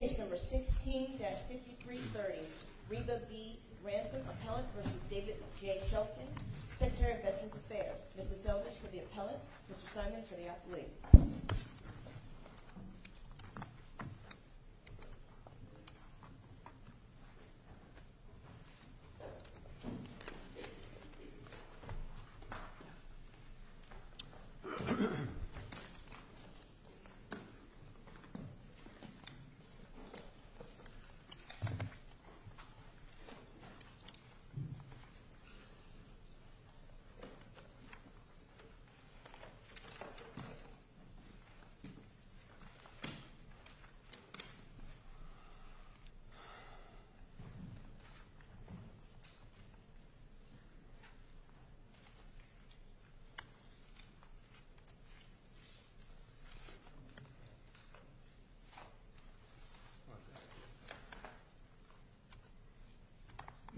Case number 16-5330, Reba B. Ransom, Appellant v. David J. Shulkin, Secretary of Veterans Affairs. Mr. Selvidge for the Appellant, Mr. Simon for the Athlete.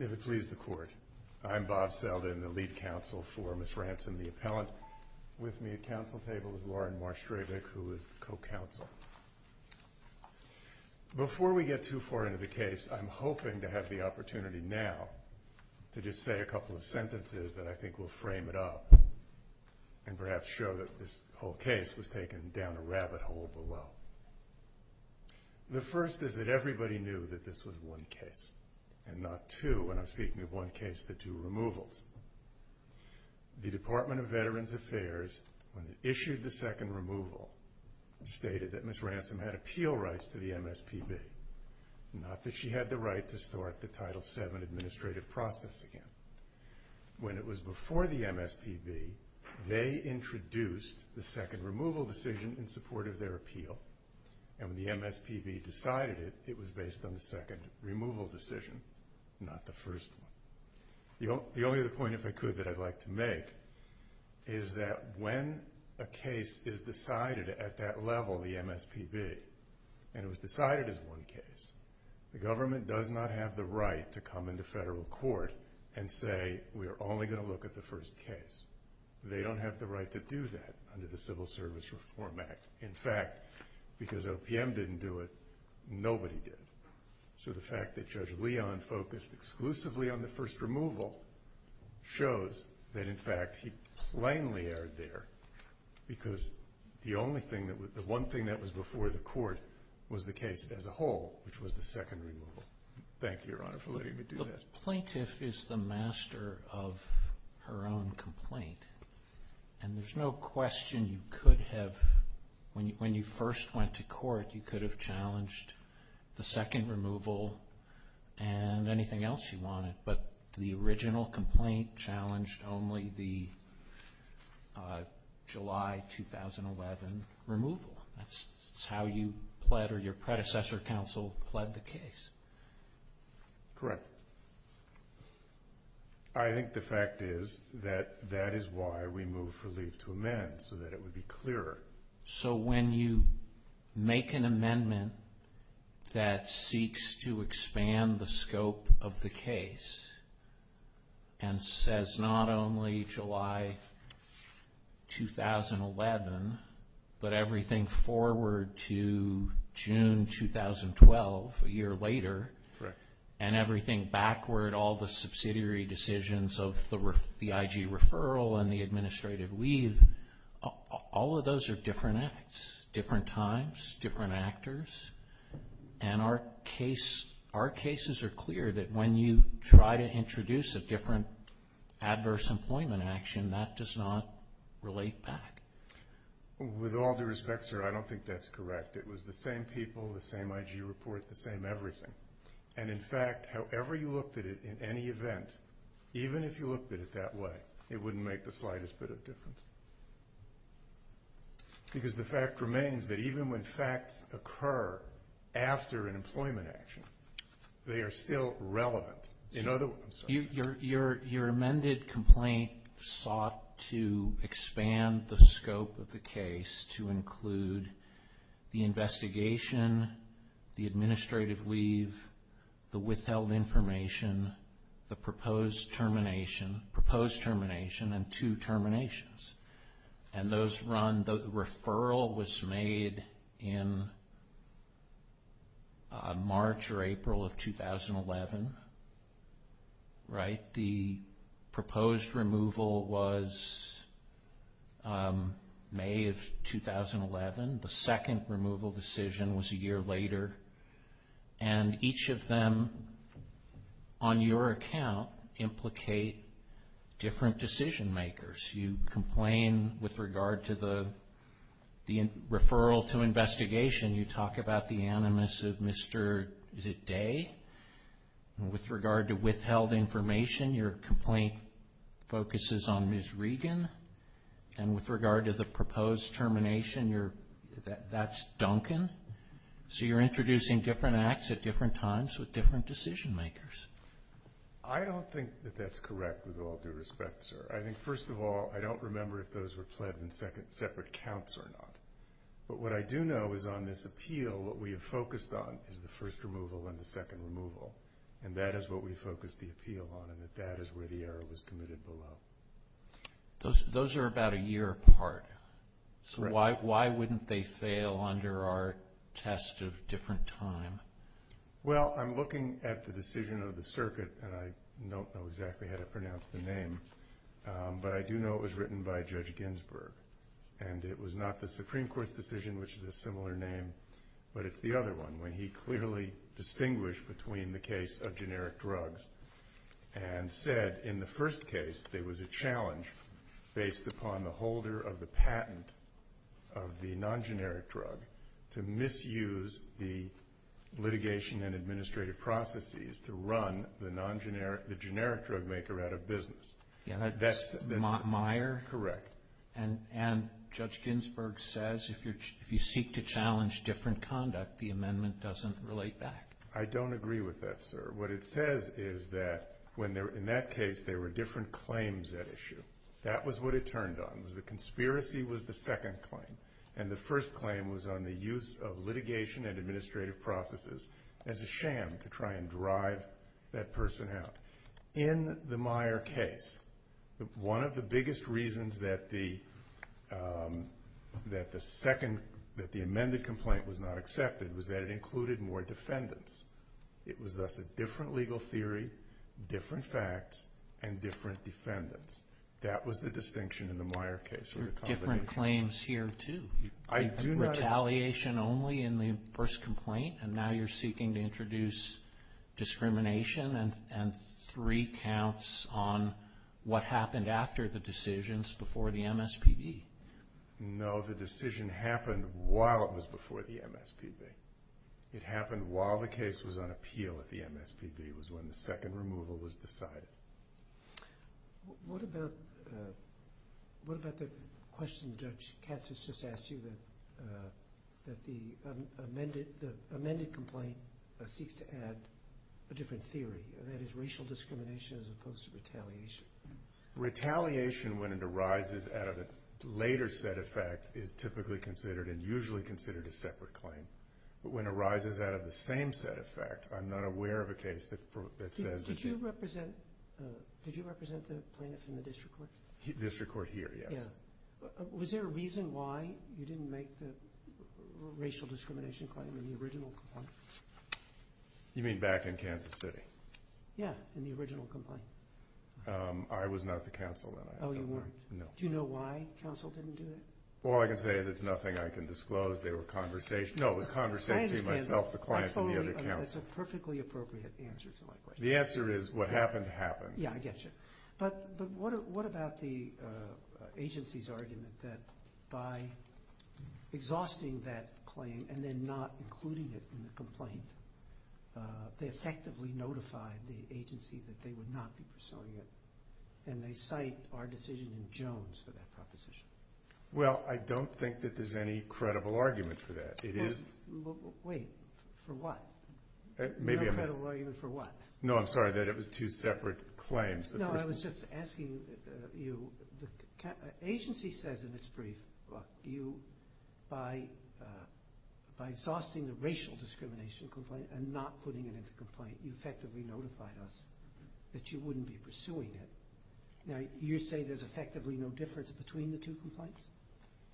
If it please the Court, I'm Bob Selvidge, the lead counsel for Ms. Ransom, the Appellant. With me at counsel table is Lauren Marsh-Dravic, who is the co-counsel. Before we get too far into the case, I'm hoping to have the opportunity now to just say a couple of sentences that I think will frame it up and perhaps show that this whole case was taken down a rabbit hole below. The first is that everybody knew that this was one case, and not two, when I'm speaking of one case, the two removals. The Department of Veterans Affairs, when it issued the second removal, stated that Ms. Ransom had appeal rights to the MSPB, not that she had the right to start the Title VII administrative process again. When it was before the MSPB, they introduced the second removal decision in support of their appeal. When the MSPB decided it, it was based on the second removal decision, not the first one. The only other point, if I could, that I'd like to make is that when a case is decided at that level, the MSPB, and it was decided as one case, the government does not have the right to come into federal court and say, we're only going to look at the first case. They don't have the right to do that under the Civil Service Reform Act. In fact, because OPM didn't do it, nobody did. So the fact that Judge Leon focused exclusively on the first removal shows that, in fact, he plainly erred there, because the only thing, the one thing that was before the court was the case as a whole, which was the second removal. Thank you, Your Honor, for letting me do that. The plaintiff is the master of her own complaint, and there's no question you could have, when you first went to court, you could have challenged the second removal and anything else you wanted, but the original complaint challenged only the July 2011 removal. That's how you pled, or your predecessor counsel pled the case. Correct. I think the fact is that that is why we moved for leave to amend, so that it would be clearer. So when you make an amendment that seeks to expand the scope of the case, and says not only July 2011, but everything forward to June 2012, a year later, and everything backward, all the subsidiary decisions of the IG referral and the administrative leave, all of those are different acts, different times, different actors. And our cases are clear that when you try to introduce a different adverse employment action, that does not relate back. With all due respect, sir, I don't think that's correct. It was the same people, the same IG report, the same everything. And in fact, however you looked at it in any event, even if you looked at it that way, it wouldn't make the slightest bit of difference. Because the fact remains that even when facts occur after an employment action, they are still relevant. Your amended complaint sought to expand the scope of the case to include the investigation, the administrative leave, the withheld information, the proposed termination, and two terminations. And those run, the referral was made in March or April of 2011, right? The proposed removal was May of 2011. The second removal decision was a year later. And each of them, on your account, implicate different decision makers. You complain with regard to the referral to investigation. You talk about the animus of Mr. Day. With regard to withheld information, your complaint focuses on Ms. Regan. And with regard to the proposed termination, that's Duncan. So you're introducing different acts at different times with different decision makers. I don't think that that's correct with all due respect, sir. I think, first of all, I don't remember if those were pled in separate counts or not. But what I do know is on this appeal, what we have focused on is the first removal and the second removal. And that is what we focused the appeal on, and that that is where the error was committed below. Those are about a year apart. So why wouldn't they fail under our test of different time? Well, I'm looking at the decision of the circuit, and I don't know exactly how to pronounce the name, but I do know it was written by Judge Ginsburg. And it was not the Supreme Court's decision, which is a similar name, but it's the other one, when he clearly distinguished between the case of generic drugs and said in the first case there was a challenge based upon the holder of the patent of the non-generic drug to misuse the litigation and administrative processes to run the non-generic, the generic drug maker out of business. That's Meyer? Correct. And Judge Ginsburg says if you seek to challenge different conduct, the amendment doesn't relate back. I don't agree with that, sir. What it says is that in that case there were different claims at issue. That was what it turned on, was the conspiracy was the second claim, and the first claim was on the use of litigation and administrative processes as a sham to try and drive that person out. In the Meyer case, one of the biggest reasons that the second, that the amended complaint was not accepted was that it included more defendants. It was thus a different legal theory, different facts, and different defendants. That was the distinction in the Meyer case. There were different claims here, too. I do not agree. Retaliation only in the first complaint, and now you're seeking to introduce discrimination and three counts on what happened after the decisions before the MSPB. No, the decision happened while it was before the MSPB. It happened while the case was on appeal at the MSPB, was when the second removal was decided. What about the question Judge Katz has just asked you, that the amended complaint seeks to add a different theory, and that is racial discrimination as opposed to retaliation? Retaliation, when it arises out of a later set of facts, is typically considered and usually considered a separate claim. But when it arises out of the same set of facts, I'm not aware of a case that says that... Did you represent the plaintiff in the district court? District court here, yes. Was there a reason why you didn't make the racial discrimination claim in the original complaint? You mean back in Kansas City? Yeah, in the original complaint. I was not at the counsel then. Oh, you weren't? No. Do you know why counsel didn't do it? All I can say is it's nothing I can disclose. They were conversational. No, it was conversation between myself, the client, and the other counsel. That's a perfectly appropriate answer to my question. The answer is what happened happened. Yeah, I get you. But what about the agency's argument that by exhausting that claim and then not including it in the complaint, they effectively notified the agency that they would not be pursuing it, and they cite our decision in Jones for that proposition. Well, I don't think that there's any credible argument for that. Wait, for what? No credible argument for what? No, I'm sorry, that it was two separate claims. No, I was just asking you, the agency says in its brief, look, by exhausting the racial discrimination complaint and not putting it in the complaint, you effectively notified us that you wouldn't be pursuing it. Now, you say there's effectively no difference between the two complaints?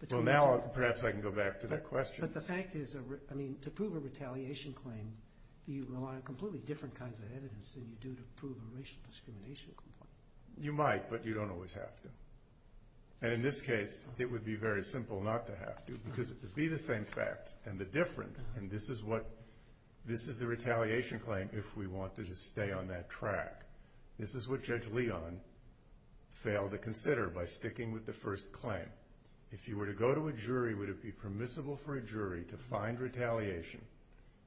Well, now perhaps I can go back to that question. But the fact is, I mean, to prove a retaliation claim, you rely on completely different kinds of evidence than you do to prove a racial discrimination complaint. You might, but you don't always have to. And in this case, it would be very simple not to have to because it would be the same facts and the difference, and this is the retaliation claim if we wanted to stay on that track. This is what Judge Leon failed to consider by sticking with the first claim. If you were to go to a jury, would it be permissible for a jury to find retaliation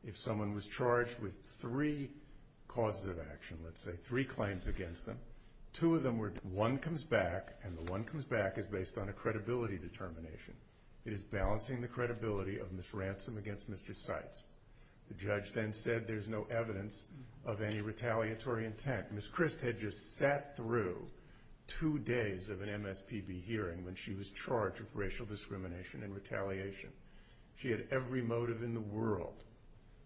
if someone was charged with three causes of action, let's say, three claims against them, two of them where one comes back, and the one comes back is based on a credibility determination. It is balancing the credibility of Ms. Ransom against Mr. Seitz. The judge then said there's no evidence of any retaliatory intent. Ms. Christ had just sat through two days of an MSPB hearing when she was charged with racial discrimination and retaliation. She had every motive in the world.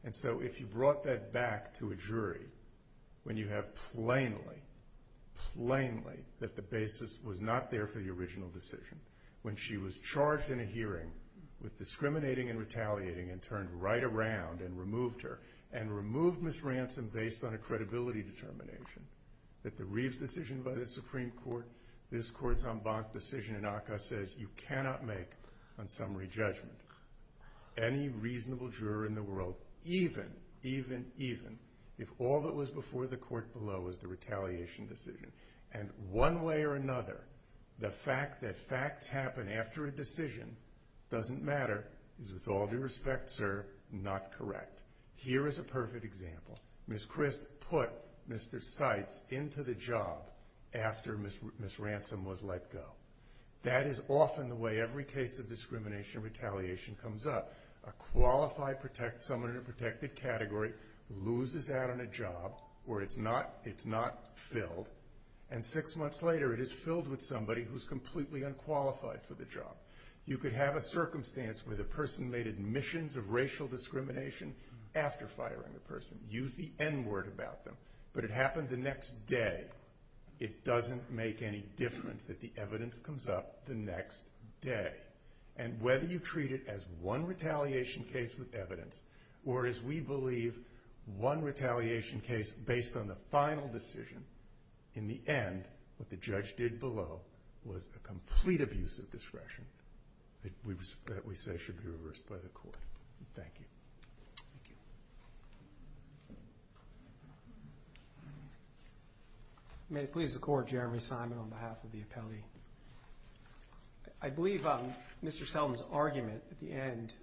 And so if you brought that back to a jury when you have plainly, plainly, that the basis was not there for the original decision, when she was charged in a hearing with discriminating and retaliating and turned right around and removed her, and removed Ms. Ransom based on a credibility determination, that the Reeves decision by the Supreme Court, this court's en banc decision in ACCA, says you cannot make a summary judgment. Any reasonable juror in the world, even, even, even, if all that was before the court below was the retaliation decision, and one way or another, the fact that facts happen after a decision doesn't matter, is with all due respect, sir, not correct. Here is a perfect example. Ms. Christ put Mr. Seitz into the job after Ms. Ransom was let go. That is often the way every case of discrimination and retaliation comes up. A qualified protect, someone in a protected category, loses out on a job where it's not, it's not filled, and six months later it is filled with somebody who's completely unqualified for the job. You could have a circumstance where the person made admissions of racial discrimination after firing the person. Use the N word about them. But it happened the next day. It doesn't make any difference that the evidence comes up the next day. And whether you treat it as one retaliation case with evidence, or as we believe, one retaliation case based on the final decision, in the end, what the judge did below was a complete abuse of discretion that we say should be reversed by the court. Thank you. May it please the Court, Jeremy Simon on behalf of the appellee. I believe Mr. Selden's argument at the end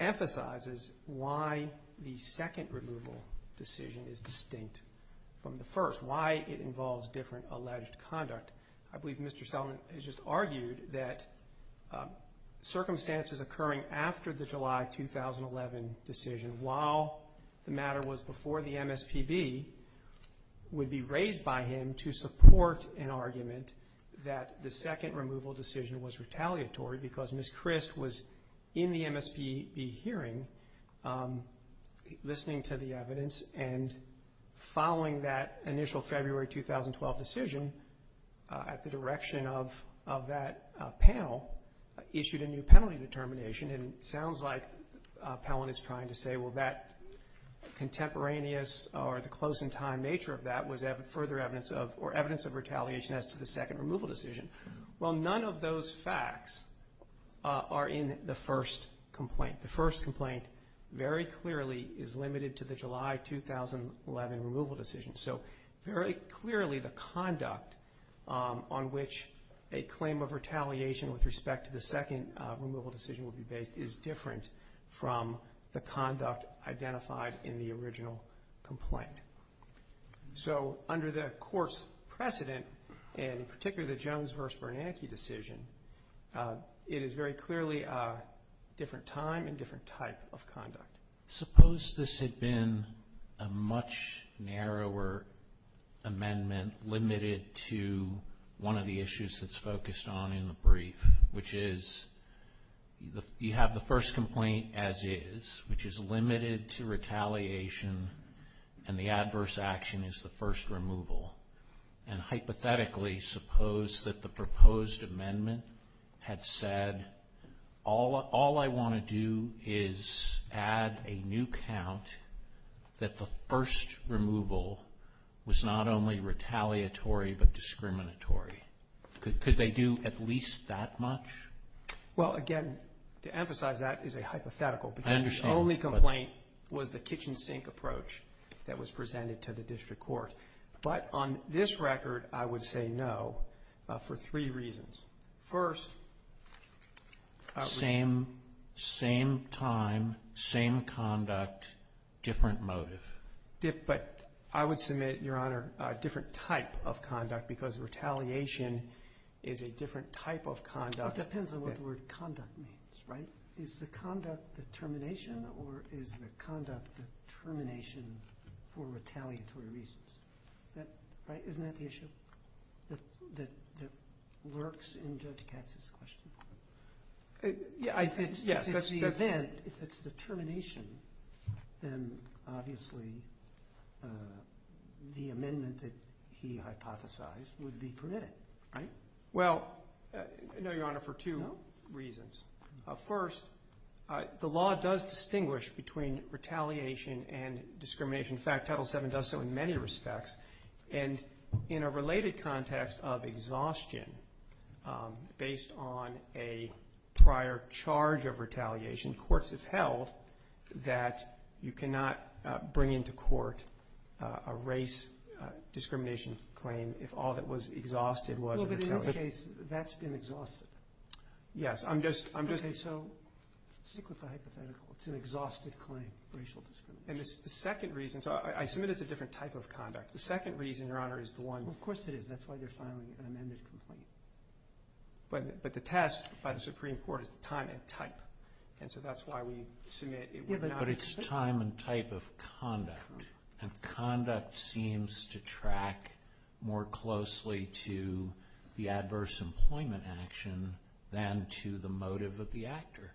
emphasizes why the second removal decision is distinct from the first, why it involves different alleged conduct. I believe Mr. Selden has just argued that circumstances occurring after the July 2011 decision, while the matter was before the MSPB, would be raised by him to support an argument that the second removal decision was retaliatory because Ms. Christ was in the MSPB hearing listening to the evidence and following that initial February 2012 decision at the direction of that panel, issued a new penalty determination. And it sounds like Pellon is trying to say, well, that contemporaneous or the close in time nature of that was further evidence of, or evidence of retaliation as to the second removal decision. Well, none of those facts are in the first complaint. The first complaint very clearly is limited to the July 2011 removal decision. So very clearly the conduct on which a claim of retaliation with respect to the second removal decision would be based is different from the conduct identified in the original complaint. So under the court's precedent, and in particular the Jones v. Bernanke decision, it is very clearly a different time and different type of conduct. Suppose this had been a much narrower amendment limited to one of the issues that's focused on in the brief, which is you have the first complaint as is, which is limited to retaliation and the adverse action is the first removal. And hypothetically suppose that the proposed amendment had said, all I want to do is add a new count that the first removal was not only retaliatory but discriminatory. Could they do at least that much? Well, again, to emphasize that is a hypothetical. I understand. Because the only complaint was the kitchen sink approach that was presented to the district court. But on this record I would say no for three reasons. First, outreach. Same time, same conduct, different motive. But I would submit, Your Honor, a different type of conduct because retaliation is a different type of conduct. It depends on what the word conduct means, right? Is the conduct the termination or is the conduct the termination for retaliatory reasons? Isn't that the issue that works in Judge Katz's question? Yes. If it's the event, if it's the termination, then obviously the amendment that he hypothesized would be permitted, right? Well, no, Your Honor, for two reasons. First, the law does distinguish between retaliation and discrimination. In fact, Title VII does so in many respects. And in a related context of exhaustion, based on a prior charge of retaliation, courts have held that you cannot bring into court a race discrimination claim if all that was exhausted was retaliation. Well, but in this case, that's been exhausted. Yes. I'm just – Okay, so stick with the hypothetical. It's an exhausted claim, racial discrimination. And the second reason – so I submit it's a different type of conduct. The second reason, Your Honor, is the one – Well, of course it is. That's why they're filing an amended complaint. But the test by the Supreme Court is the time and type. And so that's why we submit it would not – to the motive of the actor.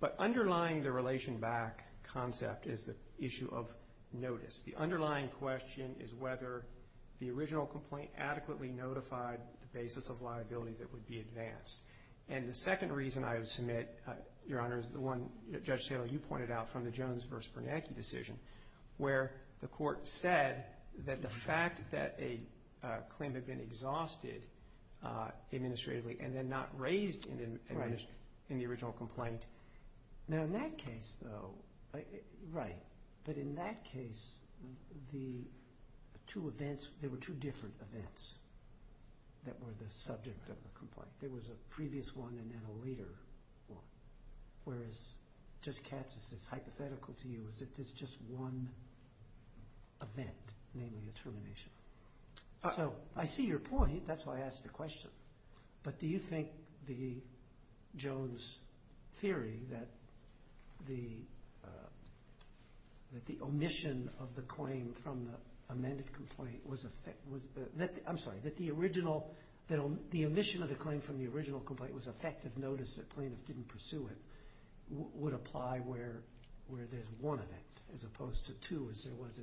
But underlying the relation back concept is the issue of notice. The underlying question is whether the original complaint adequately notified the basis of liability that would be advanced. And the second reason I would submit, Your Honor, is the one that Judge Saylor, you pointed out, from the Jones v. Bernanke decision, where the court said that the fact that a claim had been exhausted administratively and then not raised in the original complaint. Now, in that case, though – right. But in that case, the two events – there were two different events that were the subject of the complaint. There was a previous one and then a later one. Whereas Judge Katz, this is hypothetical to you, is that there's just one event, namely a termination. So I see your point. That's why I asked the question. But do you think the Jones theory that the omission of the claim from the amended complaint was – I'm sorry, that the omission of the claim from the original complaint was effective notice, the plaintiff didn't pursue it, would apply where there's one event as opposed to two as there was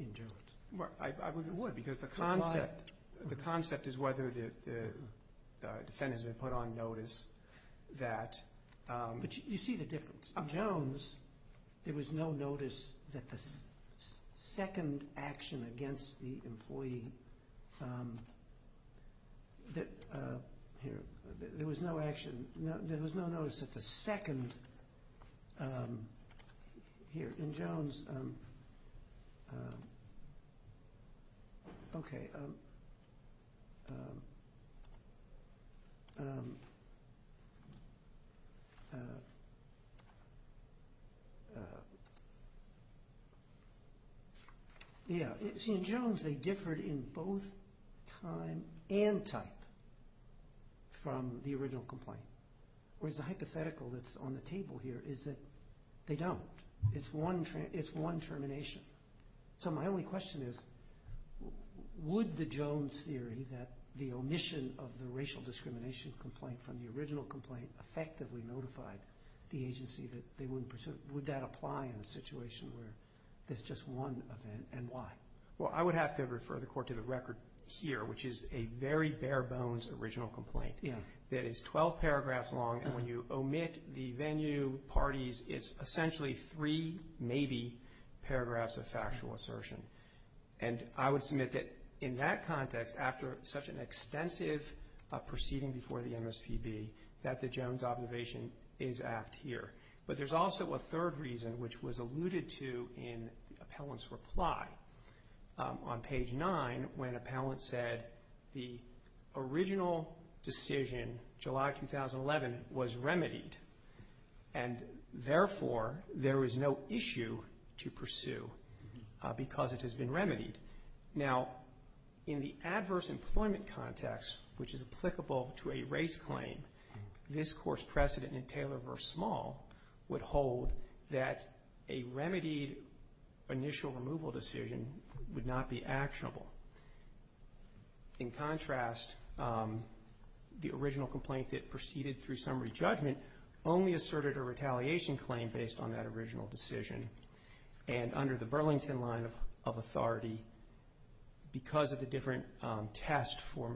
in Jones? I would. Because the concept is whether the defendant has been put on notice that – But you see the difference. In Jones, there was no notice that the second action against the employee – Here. There was no action. There was no notice that the second – Here. In Jones – Okay. Okay. Yeah. See, in Jones, they differed in both time and type from the original complaint. Whereas the hypothetical that's on the table here is that they don't. It's one termination. So my only question is, would the Jones theory that the omission of the racial discrimination complaint from the original complaint effectively notified the agency that they wouldn't pursue it, would that apply in a situation where there's just one event, and why? Well, I would have to refer the Court to the record here, which is a very bare-bones original complaint. Yeah. That is 12 paragraphs long, and when you omit the venue, parties, it's essentially three, maybe, paragraphs of factual assertion. And I would submit that in that context, after such an extensive proceeding before the MSPB, that the Jones observation is apt here. But there's also a third reason, which was alluded to in the appellant's reply on page 9, when appellant said the original decision, July 2011, was remedied, and therefore there is no issue to pursue because it has been remedied. Now, in the adverse employment context, which is applicable to a race claim, this Court's precedent in Taylor v. Small would hold that a remedied initial removal decision would not be actionable. In contrast, the original complaint that proceeded through summary judgment only asserted a retaliation claim based on that original decision, and under the Burlington line of authority, because of the different test for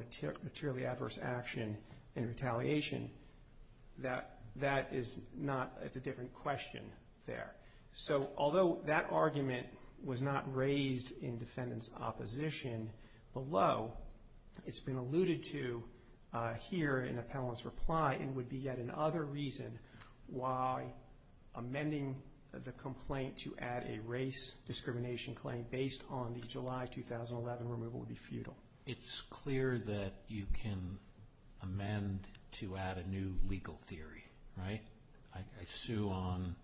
materially adverse action and retaliation, that is not, it's a different question there. So, although that argument was not raised in defendant's opposition below, it's been alluded to here in the appellant's reply, and would be yet another reason why amending the complaint to add a race discrimination claim based on the July 2011 removal would be futile. It's clear that you can amend to add a new legal theory, right? I sue on,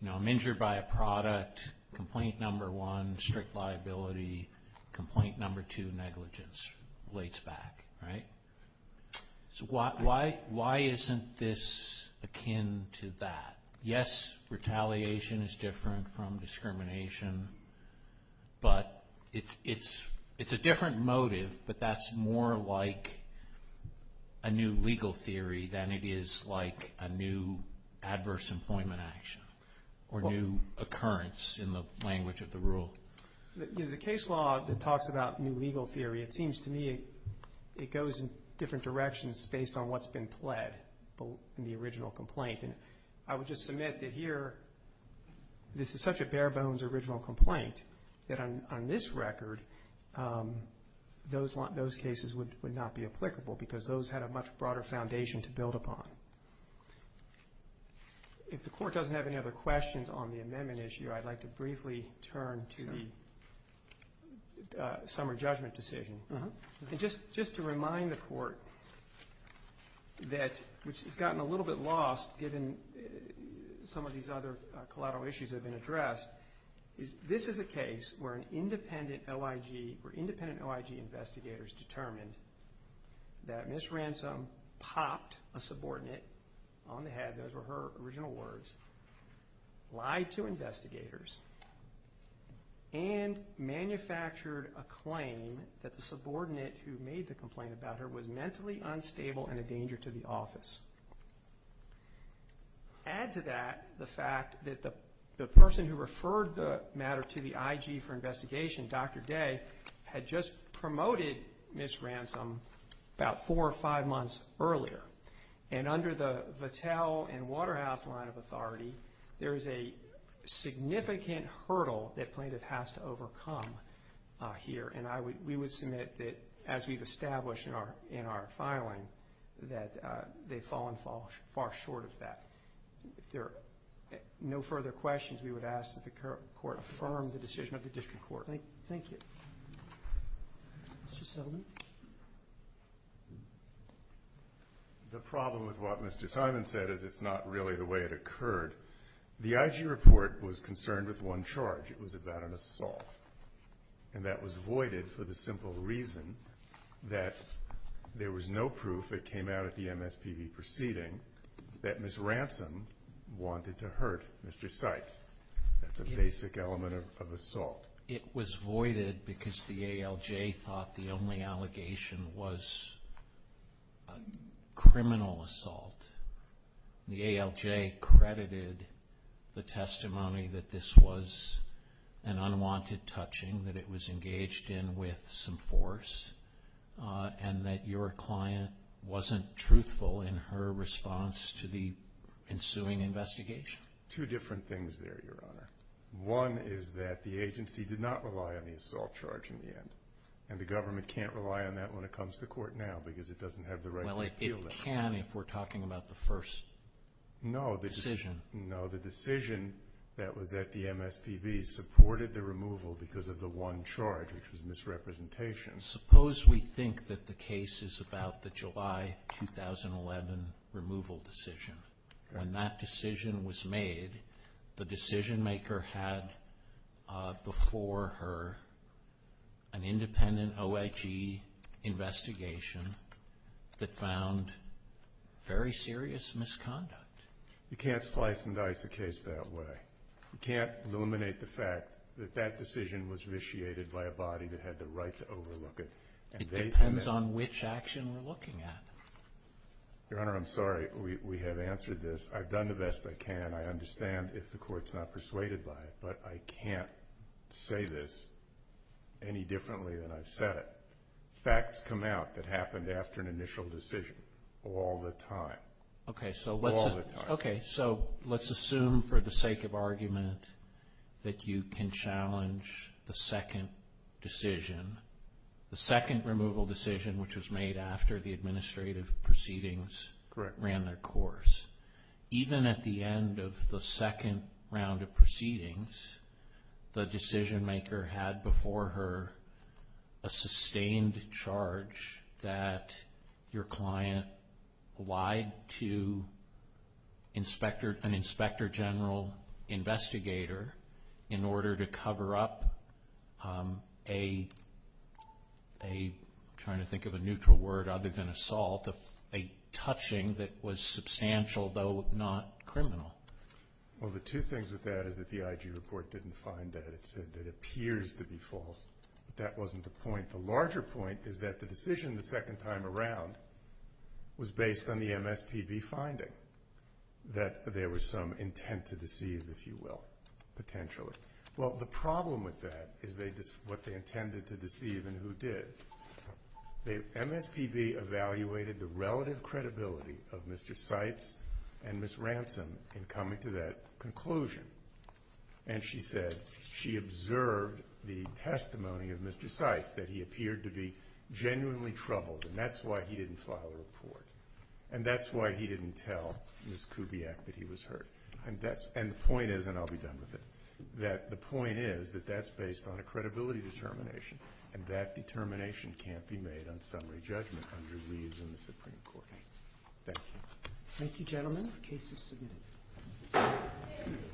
you know, I'm injured by a product, complaint number one, strict liability, complaint number two, negligence, relates back, right? So why isn't this akin to that? Yes, retaliation is different from discrimination, but it's a different motive, but that's more like a new legal theory than it is like a new adverse employment action or new occurrence in the language of the rule. The case law that talks about new legal theory, it seems to me it goes in different directions based on what's been pled in the original complaint, and I would just submit that here this is such a bare bones original complaint that on this record those cases would not be applicable because those had a much broader foundation to build upon. If the Court doesn't have any other questions on the amendment issue, I'd like to briefly turn to the summer judgment decision. Just to remind the Court that which has gotten a little bit lost This is a case where an independent OIG, where independent OIG investigators determined that Ms. Ransom popped a subordinate on the head, those were her original words, lied to investigators, and manufactured a claim that the subordinate who made the complaint about her was mentally unstable and a danger to the office. Add to that the fact that the person who referred the matter to the IG for investigation, Dr. Day, had just promoted Ms. Ransom about four or five months earlier, and under the Vattel and Waterhouse line of authority, there is a significant hurdle that plaintiff has to overcome here, and we would submit that as we've established in our filing that they've fallen far short of that. If there are no further questions, we would ask that the Court affirm the decision of the District Court. Thank you. Mr. Sullivan. The problem with what Mr. Simon said is it's not really the way it occurred. The IG report was concerned with one charge. It was about an assault, and that was voided for the simple reason that there was no proof that came out at the MSPB proceeding that Ms. Ransom wanted to hurt Mr. Seitz. That's a basic element of assault. It was voided because the ALJ thought the only allegation was a criminal assault. The ALJ credited the testimony that this was an unwanted touching, that it was engaged in with some force, and that your client wasn't truthful in her response to the ensuing investigation. Two different things there, Your Honor. One is that the agency did not rely on the assault charge in the end, and the government can't rely on that when it comes to court now because it doesn't have the right to appeal that. We can if we're talking about the first decision. No. The decision that was at the MSPB supported the removal because of the one charge, which was misrepresentation. Suppose we think that the case is about the July 2011 removal decision. When that decision was made, the decision-maker had before her an independent OHE investigation that found very serious misconduct. You can't slice and dice a case that way. You can't eliminate the fact that that decision was vitiated by a body that had the right to overlook it. It depends on which action we're looking at. Your Honor, I'm sorry. We have answered this. I've done the best I can. I understand if the Court's not persuaded by it, but I can't say this any differently than I've said it. Facts come out that happened after an initial decision all the time. All the time. Okay. So let's assume for the sake of argument that you can challenge the second decision, the second removal decision which was made after the administrative proceedings ran their course. Even at the end of the second round of proceedings, the decision-maker had before her a sustained charge that your client lied to an Inspector General investigator in order to cover up a, I'm trying to think of a neutral word other than assault, a touching that was substantial, though not criminal. Well, the two things with that is that the IG report didn't find that. It said it appears to be false, but that wasn't the point. The larger point is that the decision the second time around was based on the MSPB finding, that there was some intent to deceive, if you will, potentially. Well, the problem with that is what they intended to deceive and who did. The MSPB evaluated the relative credibility of Mr. Seitz and Ms. Ransom in coming to that conclusion, and she said she observed the testimony of Mr. Seitz that he appeared to be genuinely troubled, and that's why he didn't file a report, and that's why he didn't tell Ms. Kubiak that he was hurt. And the point is, and I'll be done with it, that the point is that that's based on a credibility determination, and that determination can't be made on summary judgment under leaves in the Supreme Court. Thank you. Thank you, gentlemen. The case is submitted.